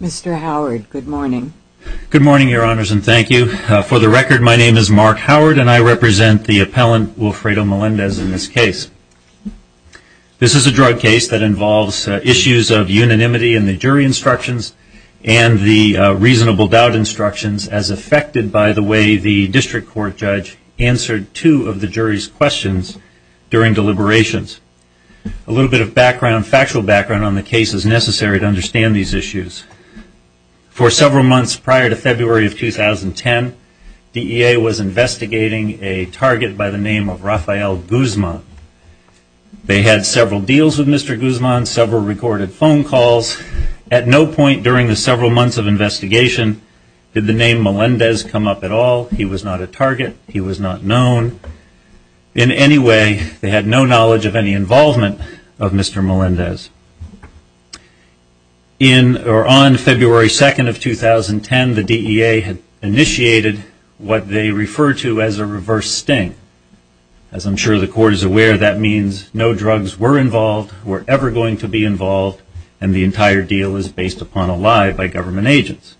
Mr. Howard, good morning. Good morning, your honors, and thank you. For the record, my name is Mark Howard and I represent the appellant Wilfredo Melendez in this case. This is a drug case that involves issues of unanimity in the jury instructions and the reasonable doubt instructions as affected by the way the district court judge answered two of the factual background on the cases necessary to understand these issues. For several months prior to February of 2010, DEA was investigating a target by the name of Rafael Guzman. They had several deals with Mr. Guzman, several recorded phone calls. At no point during the several months of investigation did the name Melendez come up at all. He was not a target. He was not known in any way. They had no knowledge of any involvement of Mr. Melendez. On February 2nd of 2010, the DEA initiated what they refer to as a reverse sting. As I'm sure the court is aware, that means no drugs were involved, were ever going to be involved, and the entire deal is based upon a lie by government agents.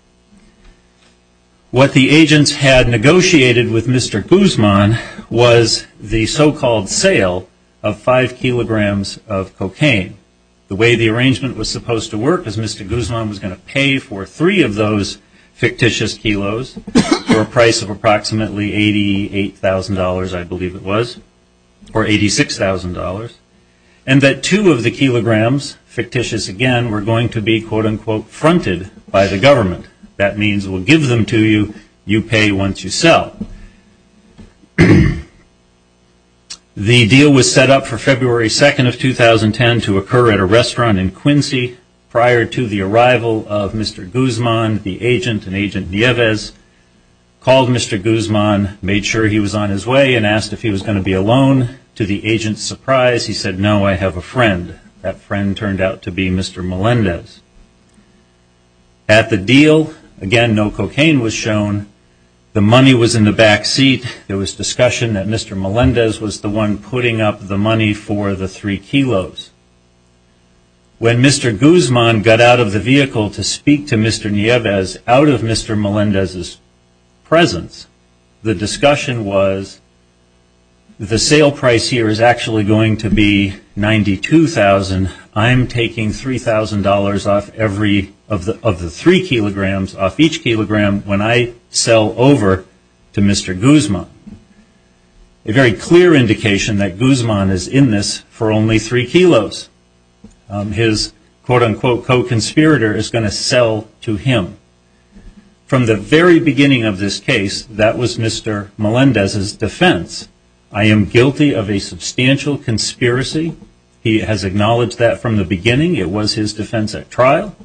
What the agents had negotiated with Mr. Guzman was the so-called sale of five kilograms of cocaine. The way the arrangement was supposed to work is Mr. Guzman was going to pay for three of those fictitious kilos for a price of approximately $88,000, I believe it was, or $86,000, and that two of the kilograms, fictitious again, were going to be, quote-unquote, fronted by the government. That means we'll give them to you, you pay once you sell. The deal was set up for February 2nd of 2010 to occur at a restaurant in Quincy. Prior to the arrival of Mr. Guzman, the agent, an agent Nieves, called Mr. Guzman, made sure he was on his way, and asked if he was going to be surprised. He said, no, I have a friend. That friend turned out to be Mr. Melendez. At the deal, again, no cocaine was shown. The money was in the back seat. There was discussion that Mr. Melendez was the one putting up the money for the three kilos. When Mr. Guzman got out of the vehicle to speak to Mr. Nieves out of Mr. Melendez's presence, the discussion was, the sale price here is actually going to be $92,000. I'm taking $3,000 off every, of the three kilograms, off each kilogram when I sell over to Mr. Guzman. A very clear indication that Guzman is in this for only three kilos. His, quote-unquote, co-conspirator is going to sell to him. From the very beginning of this case, that was Mr. Melendez's defense. I am guilty of a substantial conspiracy. He has acknowledged that from the beginning. It was his defense at trial.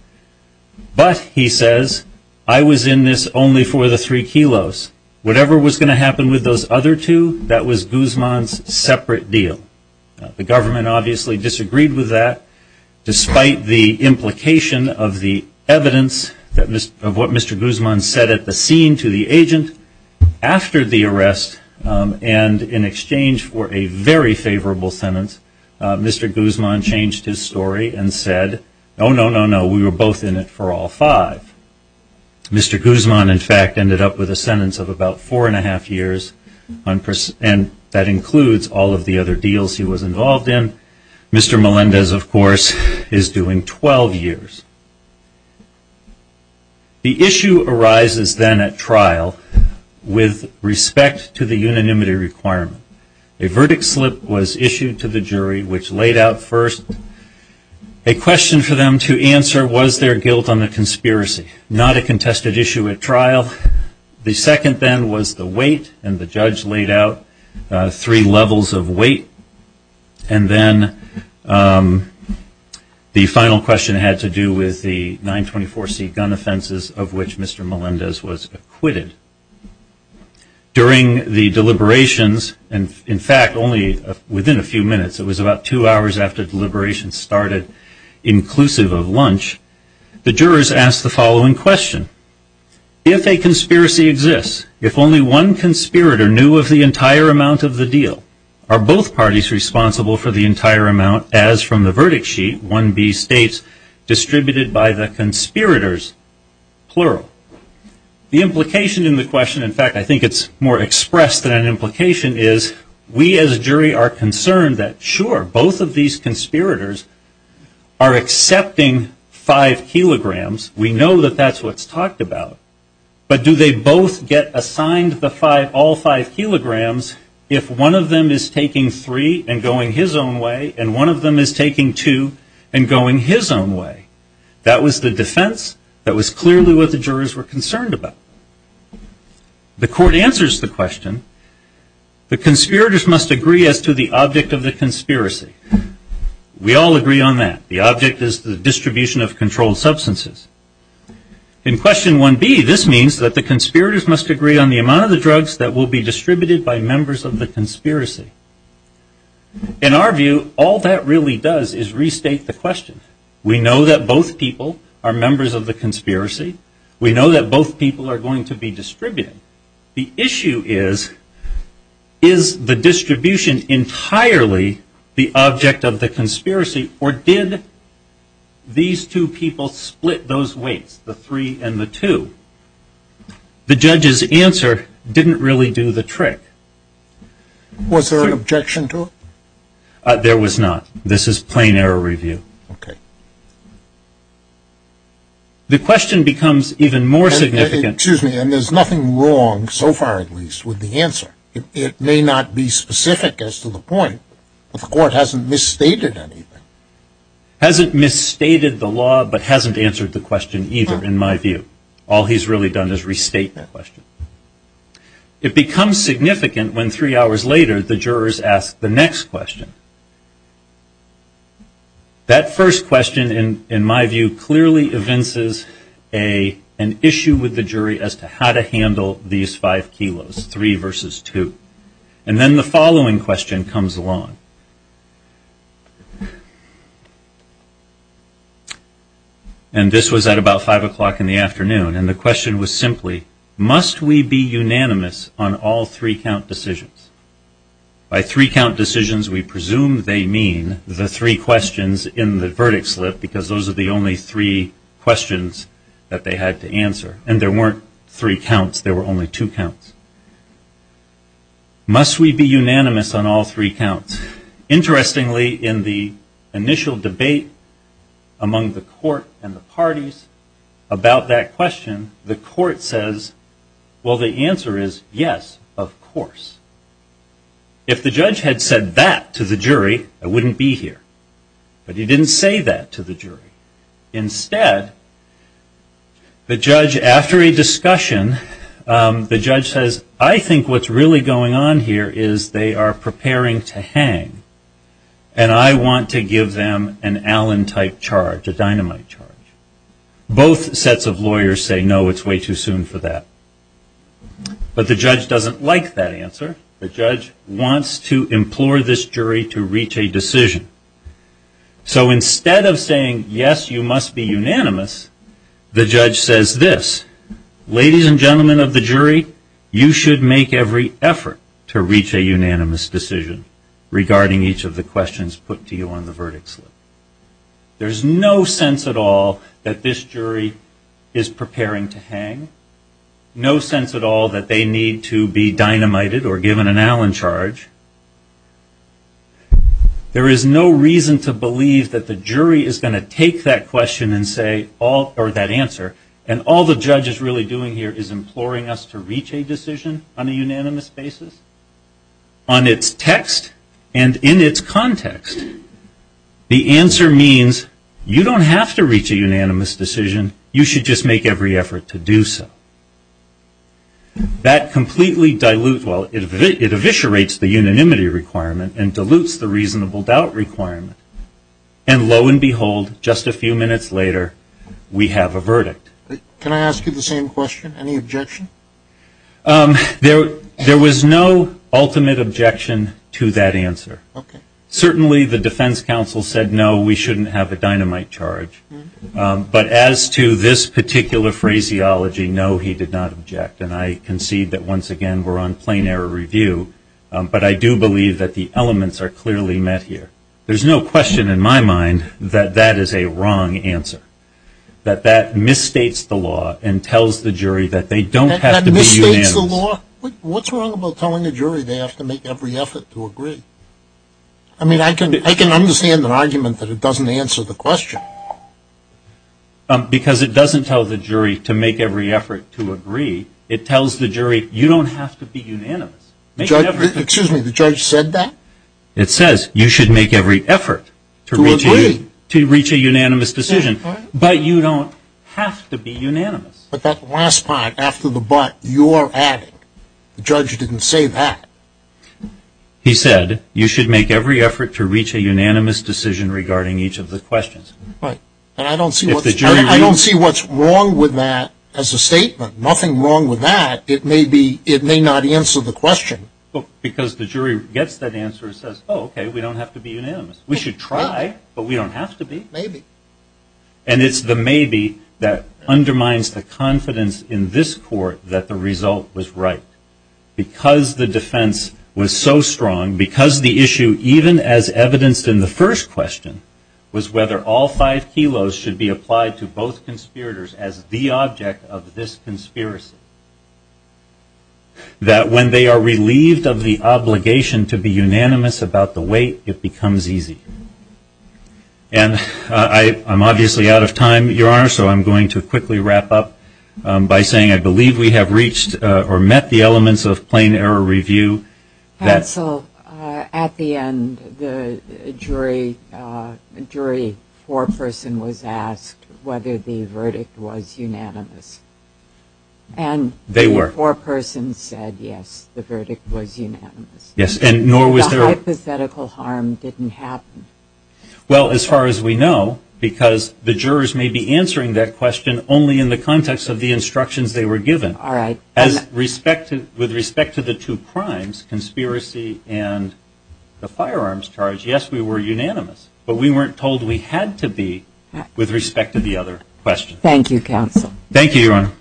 But, he says, I was in this only for the three kilos. Whatever was going to happen with those other two, that was Guzman's separate deal. The government obviously disagreed with that. Despite the implication of the evidence of what Mr. Guzman said at the scene to the agent, after the arrest, and in exchange for a very favorable sentence, Mr. Guzman changed his story and said, no, no, no, no, we were both in it for all five. Mr. Guzman, in fact, ended up with a sentence of about four and a half years, and that includes all of the other deals he was involved in. Mr. Melendez, of course, is doing 12 years. The issue arises then at trial with respect to the unanimity requirement. A verdict slip was issued to the jury, which laid out first a question for them to answer, was there guilt on the conspiracy? Not a contested issue at trial. The second then was the weight, and the judge laid out three levels of weight. And then the final question had to do with the 924C gun offenses of which Mr. Melendez was acquitted. During the deliberations, and in fact only within a few minutes, it was about two hours after deliberations started, inclusive of lunch, the jurors asked the following question. If a conspiracy exists, if only one conspirator knew of the entire amount of the deal, are both parties responsible for the entire amount as from the verdict sheet, 1B states, distributed by the conspirators, plural. The implication in the question, in fact, I think it's more expressed than an implication, is we as a jury are concerned that sure, both of these conspirators are accepting five kilograms. We know that that's what's talked about. But do they both get assigned all five kilograms if one of them is taking three and going his own way, and one of them is taking two and going his own way? That was the defense. That was clearly what the jurors were concerned about. The court answers the question, the conspirators must agree as to the object of the conspiracy. We all agree on that. The object is the distribution of controlled substances. In question 1B, this means that the conspirators must agree on the amount of the drugs that will be distributed by members of the conspiracy. In our view, all that really does is restate the question. We know that both people are going to be distributed. The issue is, is the distribution entirely the object of the conspiracy, or did these two people split those weights, the three and the two? The judge's answer didn't really do the trick. Was there an objection to it? There was not. This is plain error review. Okay. The question becomes even more significant. Excuse me, and there's nothing wrong, so far at least, with the answer. It may not be specific as to the point, but the court hasn't misstated anything. Hasn't misstated the law, but hasn't answered the question either, in my view. All he's really done is restate that question. It becomes significant when three hours later, the jurors ask the next question. That first question, in my view, clearly evinces an issue with the jury as to how to handle these five kilos, three versus two. And then the following question comes along. And this was at about five o'clock in the afternoon, and the question was simply, must we be unanimous on all three count decisions? By three count decisions, we presume they mean the three questions in the verdict slip, because those are the only three questions that they had to answer. And there weren't three counts, there were only two counts. Must we be unanimous on all three counts? Interestingly, in the initial debate among the court and the parties about that question, the court says, well, the answer is yes, of course. If the judge had said that to the jury, I wouldn't be here. But he didn't say that to the jury. Instead, the judge, after a discussion, the judge says, I think what's really going on here is they are preparing to hang. And I want to give them an Allen-type charge, a dynamite charge. Both sets of lawyers say, no, it's way too soon for that. But the judge doesn't like that answer. The judge wants to implore this jury to reach a decision. So instead of saying, yes, you must be unanimous, the judge says this, ladies and gentlemen of the jury, you should make every effort to reach a unanimous decision regarding each of the questions put to you on the verdict slip. There's no sense at all that this jury is preparing to hang. No sense at all that they need to be dynamited or given an Allen charge. There is no reason to believe that the jury is going to take that question and say, or that answer, and all the judge is really doing here is imploring us to reach a decision on a unanimous basis, on its text, and in its context. The answer means, you don't have to reach a unanimous decision. You should just make every effort to do so. That completely dilutes, well, it eviscerates the unanimity requirement and dilutes the reasonable doubt requirement. And lo and behold, just a few minutes later, we have a verdict. Can I ask you the same question? Any objection? There was no ultimate objection to that answer. Okay. Certainly the defense counsel said, no, we shouldn't have a dynamite charge. But as to this particular phraseology, no, he did not object. And I concede that, once again, we're on plain error review. But I do believe that the elements are clearly met here. There's no question in my mind that that is a wrong answer, that that misstates the law and tells the jury that they don't have to be unanimous. That misstates the law? What's wrong about telling a jury they have to make every effort to agree? I mean, I can understand an argument that it doesn't answer the question. Because it doesn't tell the jury to make every effort to agree. It tells the jury you don't have to be unanimous. Excuse me, the judge said that? It says you should make every effort to reach a unanimous decision. But you don't have to be unanimous. But that last part, after the but, you're adding. The judge didn't say that. He said you should make every effort to reach a unanimous decision regarding each of the questions. Right. And I don't see what's wrong with that as a statement. Nothing wrong with that. It may not answer the question. Because the jury gets that answer and says, oh, okay, we don't have to be unanimous. We should try, but we don't have to be. Maybe. And it's the maybe that undermines the confidence in this court that the result was right. Because the defense was so strong, because the issue, even as evidenced in the first question, was whether all five kilos should be applied to both conspirators as the object of this conspiracy. That when they are relieved of the obligation to be unanimous about the weight, it becomes easy. And I'm obviously out of time, Your Honor, so I'm going to quickly wrap up by saying I believe we have reached or met the elements of plain error review. Hansel, at the end, the jury foreperson was asked whether the verdict was unanimous. And the foreperson said, yes, the verdict was unanimous. The hypothetical harm didn't happen. Well, as far as we know, because the jurors may be answering that question only in the context of the instructions they were given. All right. With respect to the two crimes, conspiracy and the firearms charge, yes, we were unanimous. But we weren't told we had to be with respect to the other questions. Thank you, Your Honor.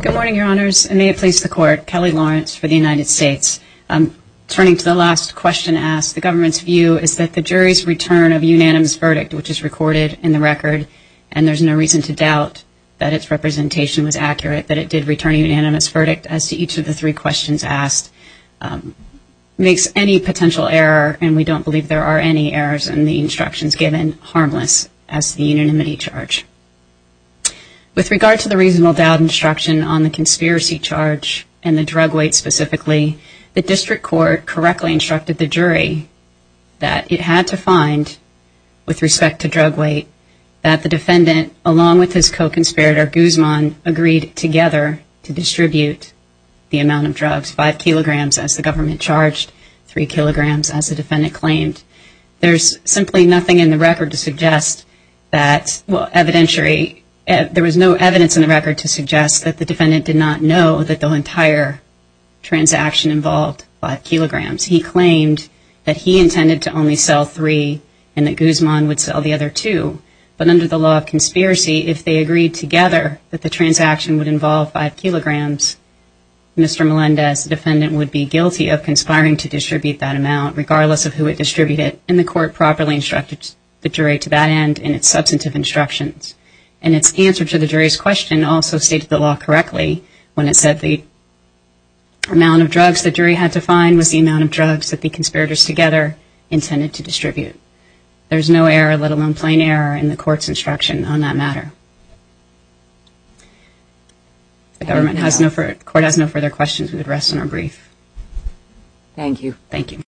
Good morning, Your Honors, and may it please the Court. Kelly Lawrence for the United States. Turning to the last question asked, the government's view is that the jury's return of a unanimous verdict, which is recorded in the record, and there's no reason to doubt that its representation was accurate, that it did return a unanimous verdict as to each of the three questions asked, makes any potential error, and we don't believe there are any errors in the instructions given, harmless as to the unanimity charge. With regard to the reasonable doubt instruction on the conspiracy charge and the drug weight specifically, the district court correctly instructed the jury that it had to find, with respect to drug weight, that the defendant, along with his co-conspirator, Guzman, agreed together to distribute the amount of drugs, five kilograms, as the government charged, three kilograms as the defendant claimed. There's simply nothing in the record to suggest that, well, evidentiary, there was no evidence in the record to suggest that the defendant did not know that the entire transaction involved five kilograms. He claimed that he intended to only sell three and that Guzman would sell the other two. But under the law of conspiracy, if they agreed together that the transaction would involve five kilograms, Mr. Melendez, the defendant, would be guilty of conspiring to distribute that amount, regardless of who would distribute it, and the court properly instructed the jury to that end in its substantive instructions. And its answer to the jury's question also stated the law correctly when it said the amount of drugs the jury had to find was the amount of drugs that the conspirators together intended to distribute. There's no error, let alone plain error, in the court's instruction on that matter. If the court has no further questions, we would rest on our brief. Thank you. Thank you.